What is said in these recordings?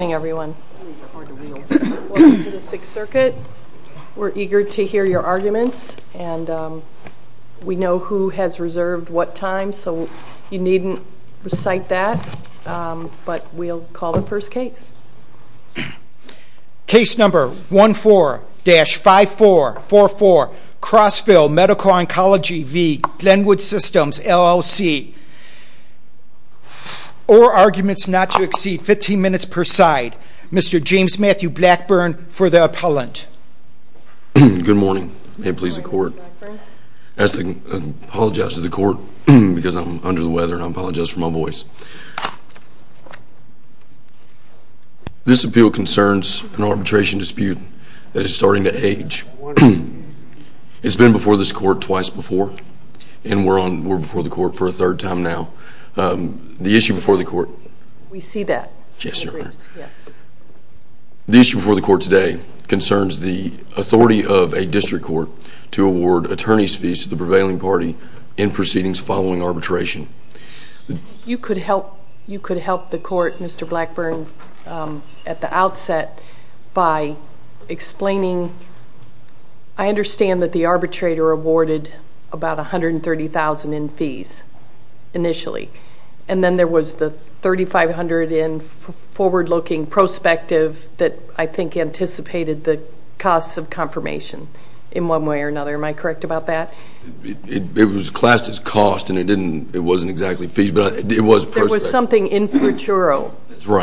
Good evening everyone. Welcome to the Sixth Circuit. We're eager to hear your arguments and we know who has reserved what time so you needn't recite that but we'll call the first case. Case number 14-5444 Crossville Medical Oncology v. Glenwood Systems LLC. Or arguments not to exceed 15 minutes per side. Mr. James Matthew Blackburn for the appellant. Good morning. May it please the court. I apologize to the court because I'm under the weather and I apologize for my voice. This appeal concerns an arbitration dispute that is starting to age. It's been before this court twice before and we're before the court for a third time now. The issue before the court today concerns the authority of a district court to award attorney's fees to the prevailing party in proceedings following arbitration. You could help the court, Mr. Blackburn, at the outset by explaining I understand that the arbitrator awarded about $130,000 in fees initially and then there was the $3,500 in forward-looking prospective that I think anticipated the costs of confirmation in one way or another. Am I correct about that? It was classed as cost and it wasn't exactly fees but it was prospective. There was something infraturo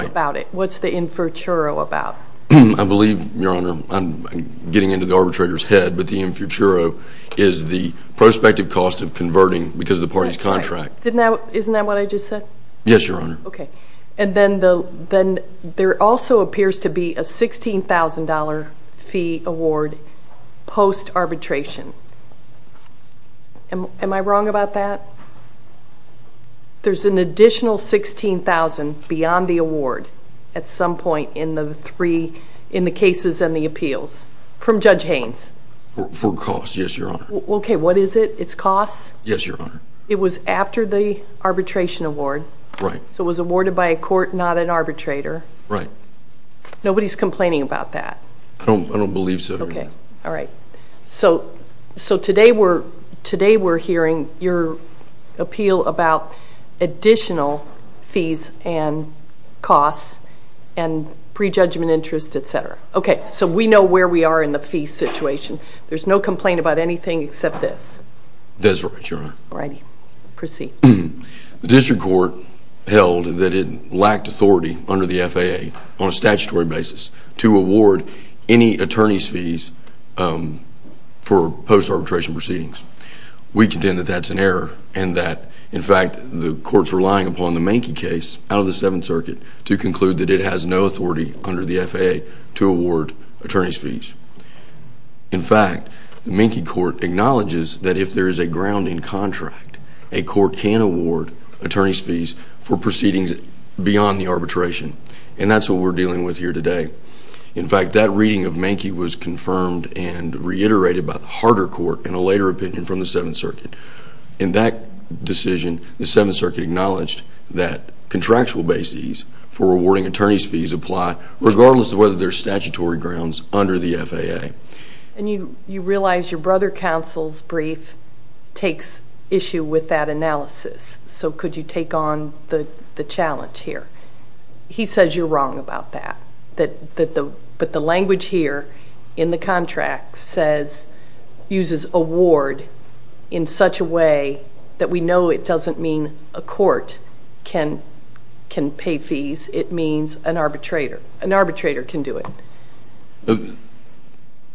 about it. What's the infraturo about? I believe, Your Honor, I'm getting into the arbitrator's head but the infraturo is the prospective cost of converting because of the party's contract. Isn't that what I just said? Yes, Your Honor. Then there also appears to be a $16,000 fee award post-arbitration. Am I wrong about that? There's an additional $16,000 beyond the award at some point in the cases and the appeals from Judge Haynes. For costs, yes, Your Honor. Okay, what is it? It's costs? Yes, Your Honor. It was after the arbitration award so it was awarded by a court, not an arbitrator? Right. Nobody's complaining about that? I don't believe so, Your Honor. Okay, all right. So today we're hearing your appeal about additional fees and costs and prejudgment interest, etc. Okay, so we know where we are in the fee situation. There's no complaint about anything except this? That's right, Your Honor. All right, proceed. The district court held that it lacked authority under the FAA on a statutory basis to award any attorney's fees for post-arbitration proceedings. We contend that that's an error and that, in fact, the court's relying upon the Menke case out of the Seventh Circuit to conclude that it has no authority under the FAA to award attorney's fees. In fact, the Menke court acknowledges that if there is a grounding contract, a court can award attorney's fees for proceedings beyond the arbitration. And that's what we're dealing with here today. In fact, that reading of Menke was confirmed and reiterated by the harder court in a later opinion from the Seventh Circuit. In that decision, the Seventh Circuit acknowledged that contractual bases for awarding attorney's fees apply regardless of whether there's statutory grounds under the FAA. And you realize your brother counsel's brief takes issue with that analysis, so could you take on the challenge here? He says you're wrong about that, but the language here in the contract says, uses award in such a way that we know it doesn't mean a court can pay fees. It means an arbitrator. An arbitrator can do it.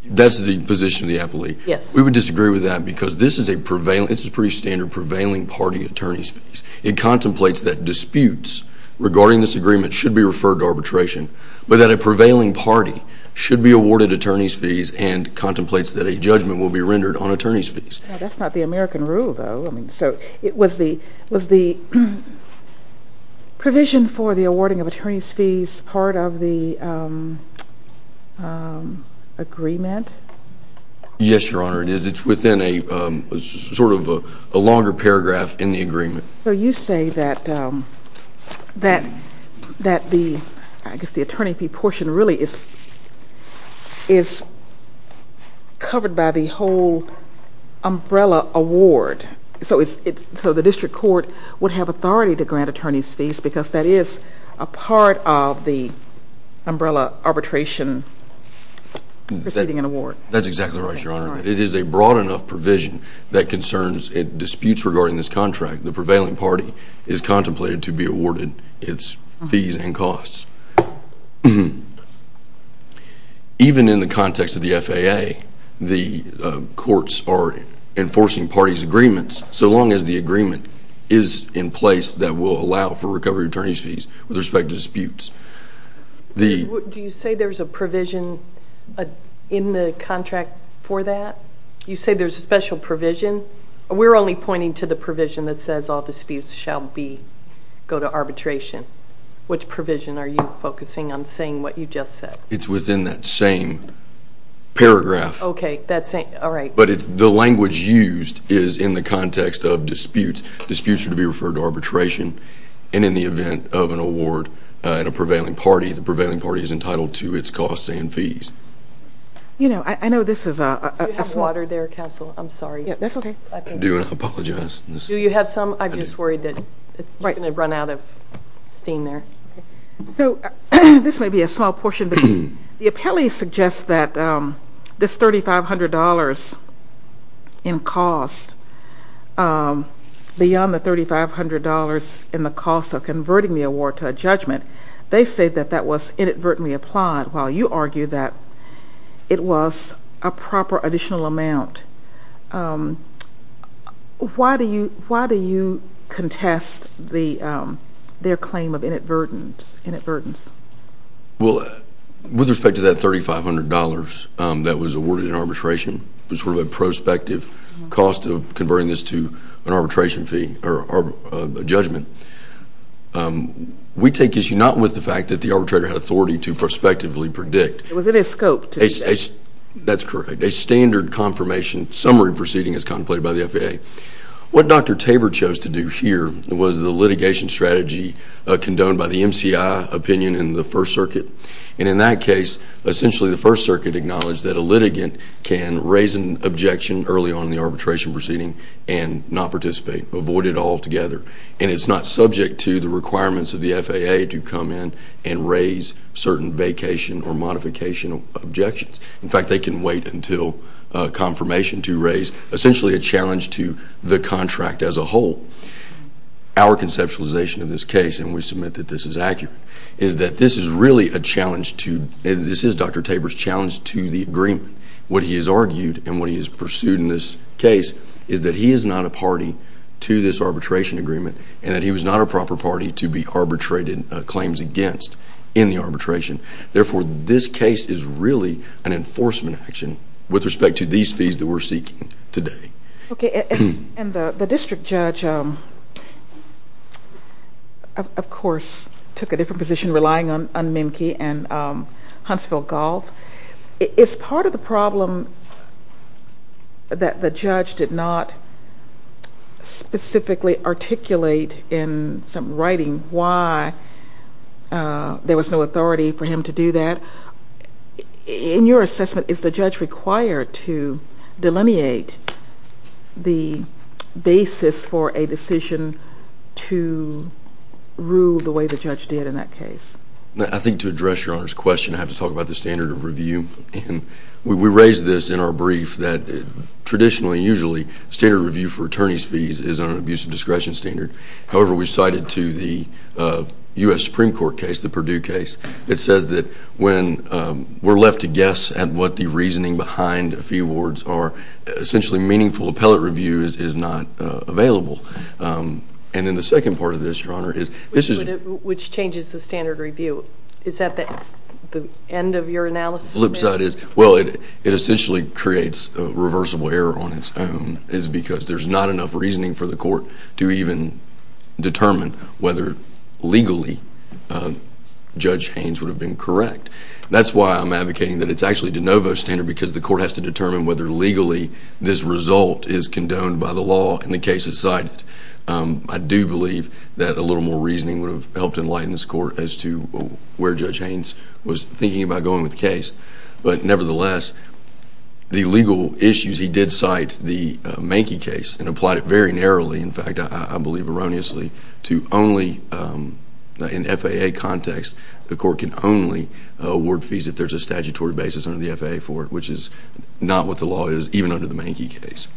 That's the position of the appellee? Yes. We would disagree with that because this is a pretty standard prevailing party attorney's fees. It contemplates that disputes regarding this agreement should be referred to arbitration, but that a prevailing party should be awarded attorney's fees and contemplates that a judgment will be rendered on attorney's fees. That's not the American rule, though. I mean, so was the provision for the awarding of attorney's fees part of the agreement? Yes, Your Honor, it is. It's within a sort of a longer paragraph in the agreement. So you say that the attorney fee portion really is covered by the whole umbrella award, so the district court would have authority to grant attorney's fees because that is a part of the umbrella arbitration proceeding and award. That's exactly right, Your Honor. It is a broad enough provision that concerns disputes regarding this contract. The prevailing party is contemplated to be awarded its fees and costs. Even in the context of the FAA, the courts are enforcing parties' agreements, so long as the agreement is in place that will allow for recovery of attorney's fees with respect to disputes. Do you say there's a provision in the contract for that? You say there's a special provision? We're only pointing to the provision that says all disputes shall go to arbitration. Which provision are you focusing on saying what you just said? It's within that same paragraph. Okay, all right. But the language used is in the context of disputes. Disputes are to be referred to arbitration, and in the event of an award in a prevailing party, the prevailing party is entitled to its costs and fees. You know, I know this is a small… Do you have water there, counsel? I'm sorry. That's okay. I do apologize. Do you have some? I'm just worried that it's going to run out of steam there. So this may be a small portion, but the appellee suggests that this $3,500 in cost, beyond the $3,500 in the cost of converting the award to a judgment, they say that that was inadvertently applied, while you argue that it was a proper additional amount. Why do you contest their claim of inadvertence? Well, with respect to that $3,500 that was awarded in arbitration, it was sort of a prospective cost of converting this to an arbitration fee or a judgment. We take issue not with the fact that the arbitrator had authority to prospectively predict. It was in his scope to do that. That's correct. A standard confirmation summary proceeding is contemplated by the FAA. What Dr. Tabor chose to do here was the litigation strategy condoned by the MCI opinion in the First Circuit. And in that case, essentially the First Circuit acknowledged that a litigant can raise an objection early on in the arbitration proceeding and not participate, avoid it altogether. And it's not subject to the requirements of the FAA to come in and raise certain vacation or modification objections. In fact, they can wait until confirmation to raise essentially a challenge to the contract as a whole. Our conceptualization of this case, and we submit that this is accurate, is that this is really a challenge to and this is Dr. Tabor's challenge to the agreement. What he has argued and what he has pursued in this case is that he is not a party to this arbitration agreement and that he was not a proper party to be arbitrated claims against in the arbitration. Therefore, this case is really an enforcement action with respect to these fees that we're seeking today. Okay. And the district judge, of course, took a different position relying on Mimki and Huntsville Golf. Is part of the problem that the judge did not specifically articulate in some writing why there was no authority for him to do that? In your assessment, is the judge required to delineate the basis for a decision to rule the way the judge did in that case? I think to address Your Honor's question, I have to talk about the standard of review. And we raised this in our brief that traditionally, usually, standard review for attorney's fees is an abusive discretion standard. However, we've cited to the U.S. Supreme Court case, the Perdue case. It says that when we're left to guess at what the reasoning behind a fee awards are, essentially meaningful appellate review is not available. And then the second part of this, Your Honor, is this is- Which changes the standard review. Is that the end of your analysis? The flip side is, well, it essentially creates a reversible error on its own. There's not enough reasoning for the court to even determine whether legally Judge Haynes would have been correct. That's why I'm advocating that it's actually de novo standard because the court has to determine whether legally this result is condoned by the law and the case is cited. I do believe that a little more reasoning would have helped enlighten this court as to where Judge Haynes was thinking about going with the case. But nevertheless, the legal issues, he did cite the Mankey case and applied it very narrowly. In fact, I believe erroneously to only in FAA context, the court can only award fees if there's a statutory basis under the FAA for it, which is not what the law is, even under the Mankey case.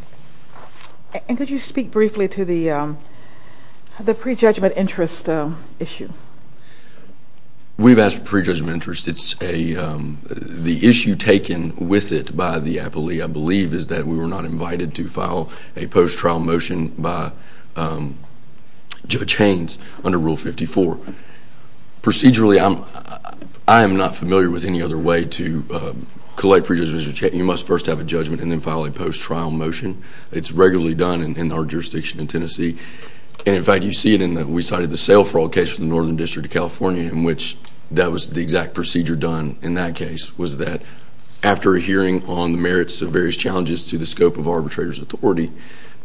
And could you speak briefly to the prejudgment interest issue? We've asked for prejudgment interest. The issue taken with it by the appellee, I believe, is that we were not invited to file a post-trial motion by Judge Haynes under Rule 54. Procedurally, I am not familiar with any other way to collect prejudgment interest. You must first have a judgment and then file a post-trial motion. It's regularly done in our jurisdiction in Tennessee. And in fact, you see it in that we cited the sale fraud case in the Northern District of California in which that was the exact procedure done in that case, was that after a hearing on the merits of various challenges to the scope of arbitrator's authority,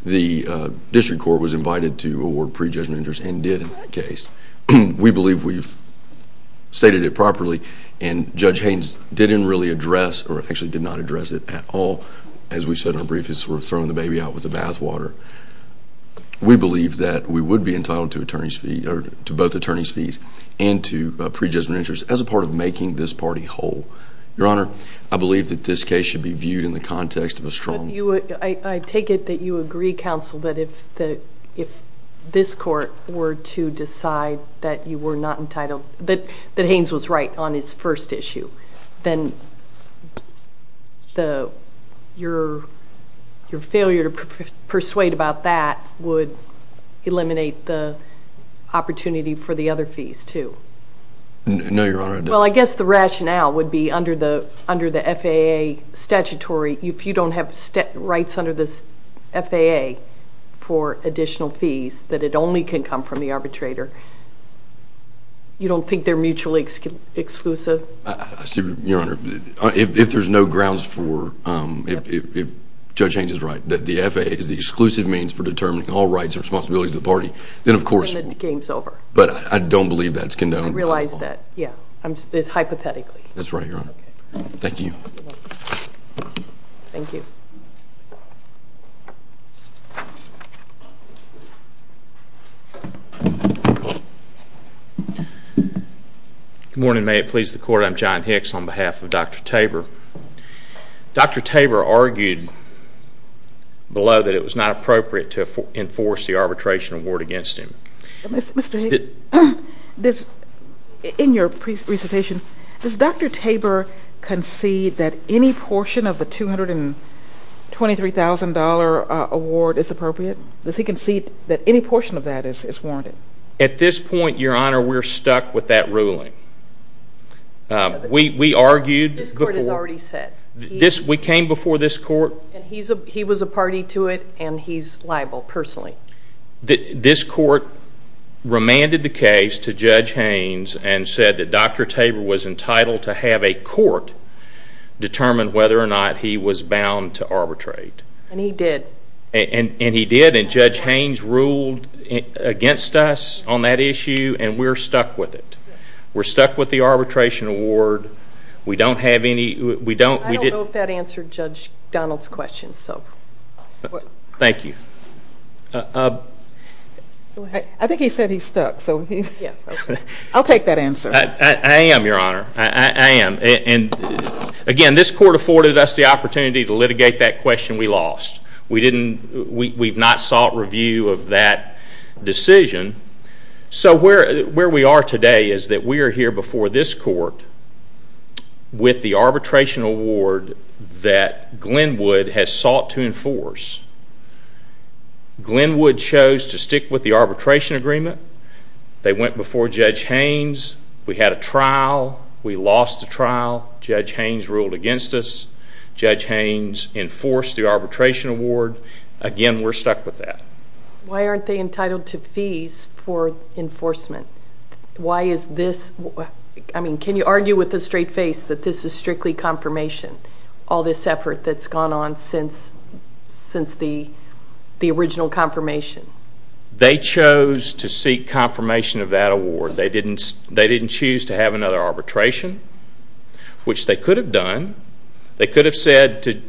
the district court was invited to award prejudgment interest and did in that case. We believe we've stated it properly, and Judge Haynes didn't really address, or actually did not address it at all, as we said in our brief, is sort of throwing the baby out with the bathwater. We believe that we would be entitled to both attorney's fees and to prejudgment interest as a part of making this party whole. Your Honor, I believe that this case should be viewed in the context of a strong... I take it that you agree, counsel, that if this court were to decide that you were not entitled, that Haynes was right on his first issue, then your failure to persuade about that would eliminate the opportunity for the other fees, too? No, Your Honor, it doesn't. Well, I guess the rationale would be under the FAA statutory, if you don't have rights under the FAA for additional fees, that it only can come from the arbitrator. You don't think they're mutually exclusive? Your Honor, if there's no grounds for, if Judge Haynes is right, that the FAA is the exclusive means for determining all rights and responsibilities of the party, then of course... Then the game's over. But I don't believe that's condoned. I realize that, yeah, hypothetically. That's right, Your Honor. Thank you. Thank you. Good morning. May it please the Court. I'm John Hicks on behalf of Dr. Tabor. Dr. Tabor argued below that it was not appropriate to enforce the arbitration award against him. Mr. Hicks, in your presentation, does Dr. Tabor concede that any portion of the $200,000 $23,000 award is appropriate? Does he concede that any portion of that is warranted? At this point, Your Honor, we're stuck with that ruling. We argued before. This Court has already said. We came before this Court. He was a party to it, and he's liable personally. This Court remanded the case to Judge Haynes and said that Dr. Tabor was entitled to have a court determine whether or not he was bound to arbitrate. And he did. And he did, and Judge Haynes ruled against us on that issue, and we're stuck with it. We're stuck with the arbitration award. We don't have any. I don't know if that answered Judge Donald's question. Thank you. I think he said he's stuck. I'll take that answer. I am, Your Honor. I am. Again, this Court afforded us the opportunity to litigate that question we lost. We've not sought review of that decision. So where we are today is that we are here before this Court with the arbitration award that Glenwood has sought to enforce. Glenwood chose to stick with the arbitration agreement. They went before Judge Haynes. We had a trial. We lost the trial. Judge Haynes ruled against us. Judge Haynes enforced the arbitration award. Again, we're stuck with that. Why aren't they entitled to fees for enforcement? Why is this? I mean, can you argue with a straight face that this is strictly confirmation, all this effort that's gone on since the original confirmation? They chose to seek confirmation of that award. They didn't choose to have another arbitration, which they could have done. They could have said to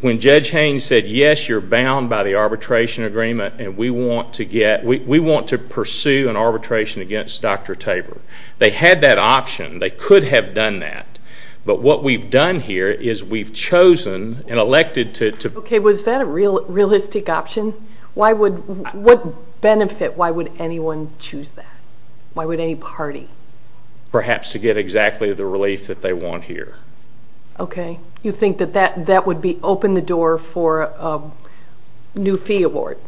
when Judge Haynes said, yes, you're bound by the arbitration agreement and we want to pursue an arbitration against Dr. Tabor. They had that option. They could have done that. But what we've done here is we've chosen and elected to. Okay, was that a realistic option? What benefit? Why would anyone choose that? Why would any party? Perhaps to get exactly the relief that they want here. Okay. You think that that would open the door for a new fee award?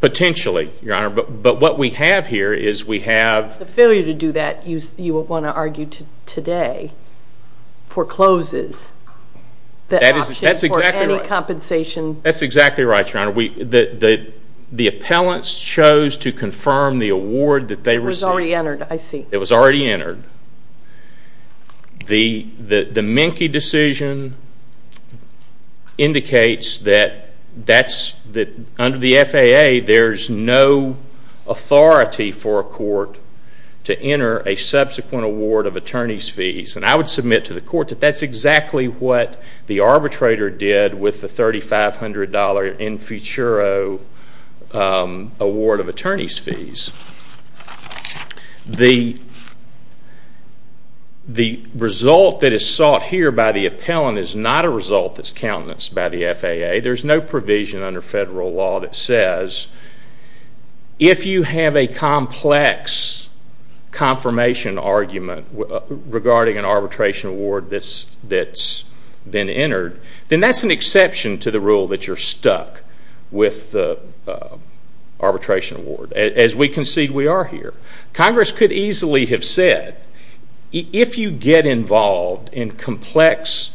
Potentially, Your Honor. But what we have here is we have... The failure to do that, you would want to argue today, forecloses the option for any compensation. That's exactly right, Your Honor. The appellants chose to confirm the award that they received. It was already entered, I see. It was already entered. The Menke decision indicates that under the FAA, there's no authority for a court to enter a subsequent award of attorney's fees. And I would submit to the court that that's exactly what the arbitrator did with the $3,500 Infuturo award of attorney's fees. The result that is sought here by the appellant is not a result that's countenanced by the FAA. There's no provision under federal law that says, if you have a complex confirmation argument regarding an arbitration award that's been entered, then that's an exception to the rule that you're stuck with the arbitration award. As we concede, we are here. Congress could easily have said, if you get involved in complex,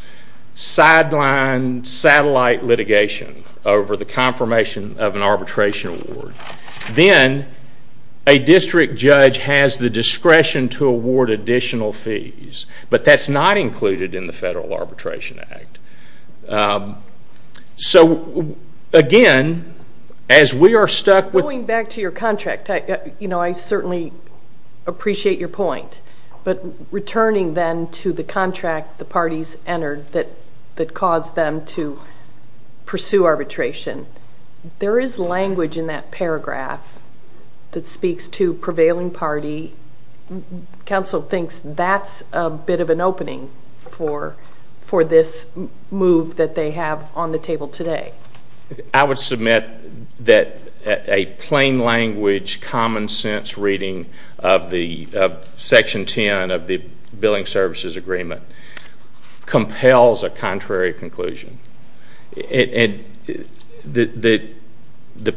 sidelined, satellite litigation over the confirmation of an arbitration award, then a district judge has the discretion to award additional fees. But that's not included in the Federal Arbitration Act. So, again, as we are stuck with Going back to your contract, I certainly appreciate your point. But returning then to the contract the parties entered that caused them to pursue arbitration, there is language in that paragraph that speaks to prevailing party. Counsel thinks that's a bit of an opening for this move that they have on the table today. I would submit that a plain-language, common-sense reading of Section 10 of the Billing Services Agreement compels a contrary conclusion. The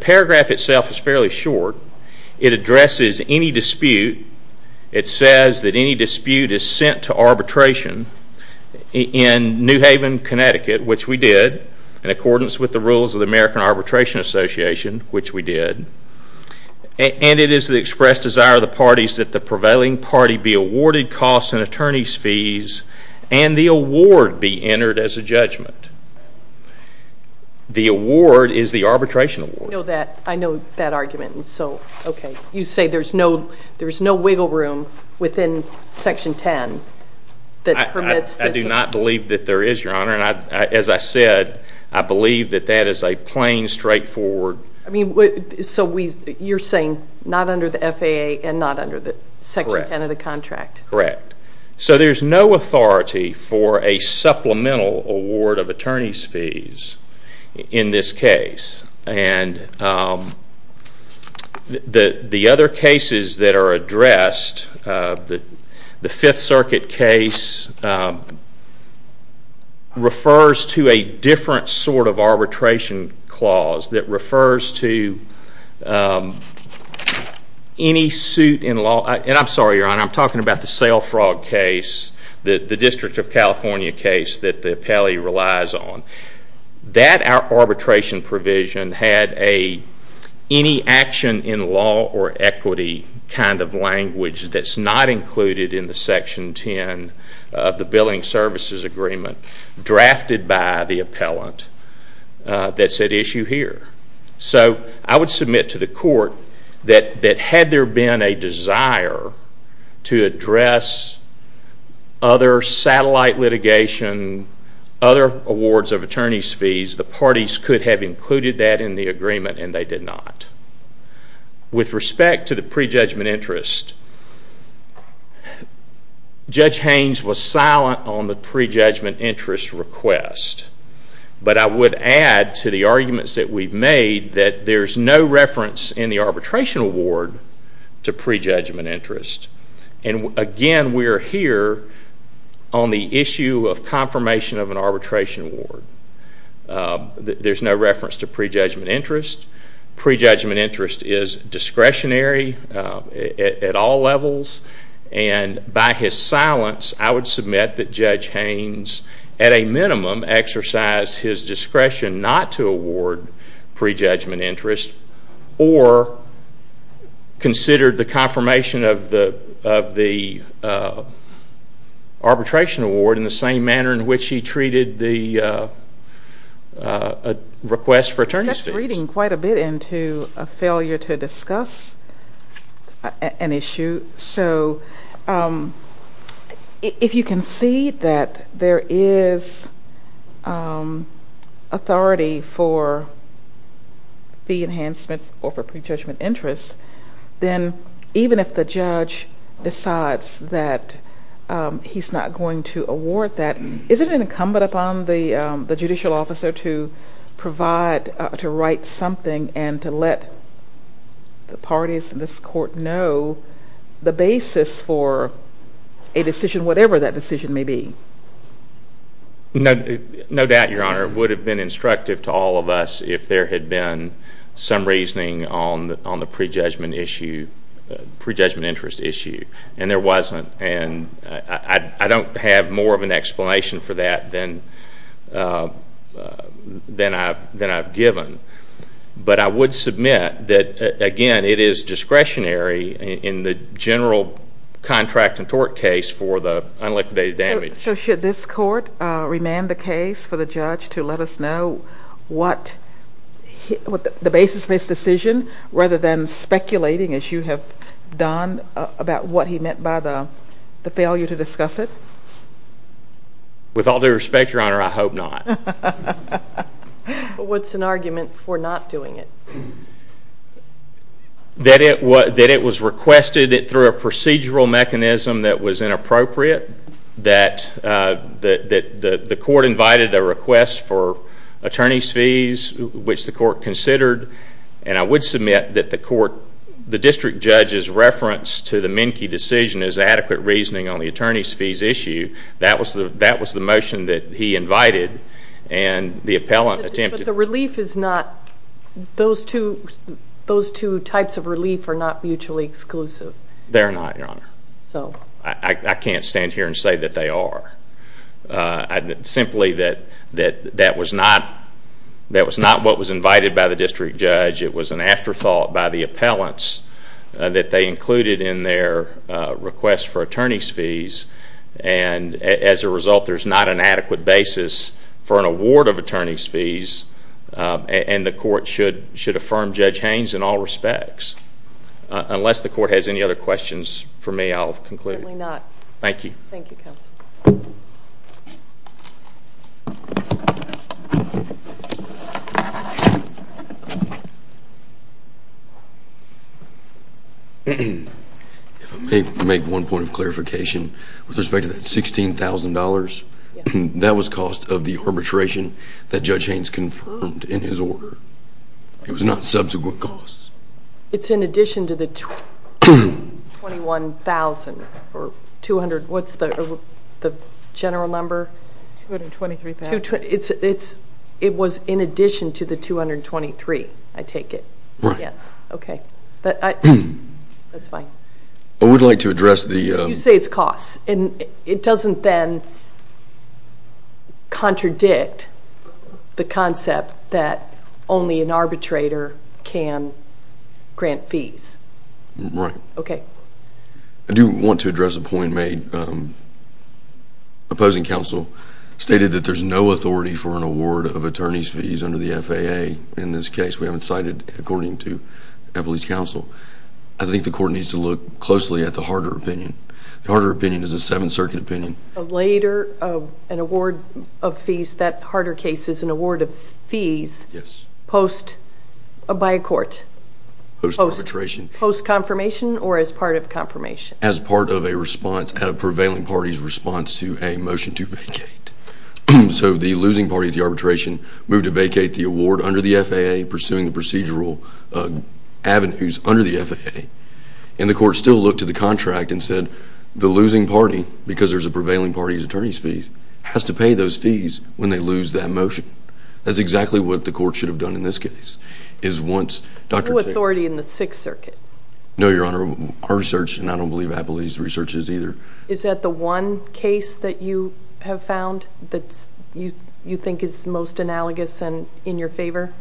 paragraph itself is fairly short. It addresses any dispute. It says that any dispute is sent to arbitration in New Haven, Connecticut, which we did in accordance with the rules of the American Arbitration Association, which we did. And it is the expressed desire of the parties that the prevailing party be awarded costs and attorneys' fees and the award be entered as a judgment. The award is the arbitration award. I know that argument. You say there's no wiggle room within Section 10 that permits this. I do not believe that there is, Your Honor. As I said, I believe that that is a plain, straightforward. So you're saying not under the FAA and not under Section 10 of the contract? Correct. So there's no authority for a supplemental award of attorneys' fees in this case. And the other cases that are addressed, the Fifth Circuit case, refers to a different sort of arbitration clause that refers to any suit in law. And I'm sorry, Your Honor. I'm talking about the sale fraud case, the District of California case that the appellee relies on. That arbitration provision had any action in law or equity kind of language that's not included in the Section 10 of the Billing Services Agreement drafted by the appellant that said issue here. So I would submit to the court that had there been a desire to address other satellite litigation, other awards of attorneys' fees, the parties could have included that in the agreement and they did not. With respect to the prejudgment interest, Judge Haynes was silent on the prejudgment interest request. But I would add to the arguments that we've made that there's no reference in the arbitration award to prejudgment interest. And again, we're here on the issue of confirmation of an arbitration award. There's no reference to prejudgment interest. Prejudgment interest is discretionary at all levels. And by his silence, I would submit that Judge Haynes, at a minimum, exercised his discretion not to award prejudgment interest or considered the confirmation of the arbitration award in the same manner in which he treated the request for attorney's fees. That's reading quite a bit into a failure to discuss an issue. So if you can see that there is authority for fee enhancements or for prejudgment interest, then even if the judge decides that he's not going to award that, isn't it incumbent upon the judicial officer to provide, to write something and to let the parties in this court know the basis for a decision, whatever that decision may be? No doubt, Your Honor, it would have been instructive to all of us if there had been some reasoning on the prejudgment interest issue. And there wasn't. And I don't have more of an explanation for that than I've given. But I would submit that, again, it is discretionary in the general contract and tort case for the unliquidated damage. So should this court remand the case for the judge to let us know what the basis for his decision, rather than speculating, as you have done, about what he meant by the failure to discuss it? With all due respect, Your Honor, I hope not. What's an argument for not doing it? That it was requested through a procedural mechanism that was inappropriate, that the court invited a request for attorney's fees, which the court considered. And I would submit that the district judge's reference to the Menke decision is adequate reasoning on the attorney's fees issue. That was the motion that he invited and the appellant attempted. But the relief is not, those two types of relief are not mutually exclusive. They're not, Your Honor. I can't stand here and say that they are. Simply that that was not what was invited by the district judge. It was an afterthought by the appellants that they included in their request for attorney's fees. And as a result, there's not an adequate basis for an award of attorney's fees. And the court should affirm Judge Haynes in all respects. Unless the court has any other questions for me, I'll conclude. Certainly not. Thank you. Thank you, counsel. If I may make one point of clarification. With respect to that $16,000, that was cost of the arbitration that Judge Haynes confirmed in his order. It was not subsequent costs. It's in addition to the $21,000. What's the general number? $223,000. It was in addition to the $223,000, I take it. Right. Yes. Okay. That's fine. I would like to address the... You say it's costs. It doesn't then contradict the concept that only an arbitrator can grant fees. Right. Okay. I do want to address a point made. Opposing counsel stated that there's no authority for an award of attorney's fees under the FAA. In this case, we haven't cited according to Eppley's counsel. I think the court needs to look closely at the harder opinion. The harder opinion is a Seventh Circuit opinion. Later, an award of fees, that harder case is an award of fees by a court. Post-arbitration. Post-confirmation or as part of confirmation? As part of a response at a prevailing party's response to a motion to vacate. So the losing party of the arbitration moved to vacate the award under the FAA, pursuing the procedural avenues under the FAA. And the court still looked to the contract and said, the losing party, because there's a prevailing party's attorney's fees, has to pay those fees when they lose that motion. That's exactly what the court should have done in this case. Is once... No authority in the Sixth Circuit. No, Your Honor. Our research, and I don't believe Eppley's research is either. Is that the one case that you have found that you think is most analogous and in your favor?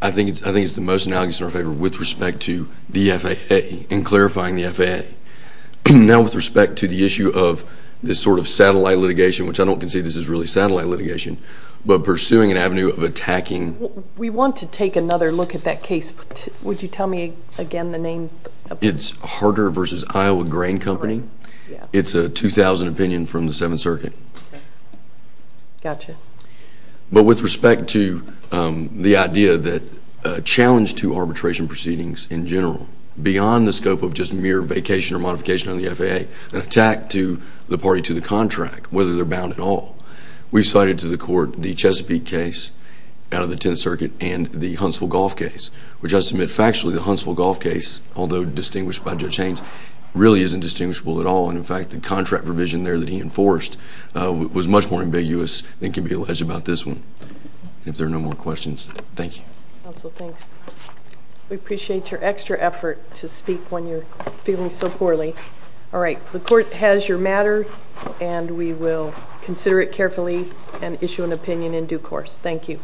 I think it's the most analogous and in our favor with respect to the FAA and clarifying the FAA. Now, with respect to the issue of this sort of satellite litigation, which I don't concede this is really satellite litigation, but pursuing an avenue of attacking... We want to take another look at that case. Would you tell me again the name? It's Harder v. Iowa Grain Company. It's a 2000 opinion from the Seventh Circuit. Gotcha. But with respect to the idea that a challenge to arbitration proceedings in general, beyond the scope of just mere vacation or modification on the FAA, an attack to the party to the contract, whether they're bound at all, we've cited to the court the Chesapeake case out of the Tenth Circuit and the Huntsville golf case, which I submit factually the Huntsville golf case, although distinguished by Judge Haynes, really isn't distinguishable at all. And, in fact, the contract provision there that he enforced was much more ambiguous than can be alleged about this one. If there are no more questions, thank you. Counsel, thanks. We appreciate your extra effort to speak when you're feeling so poorly. All right. The court has your matter, and we will consider it carefully and issue an opinion in due course. Thank you.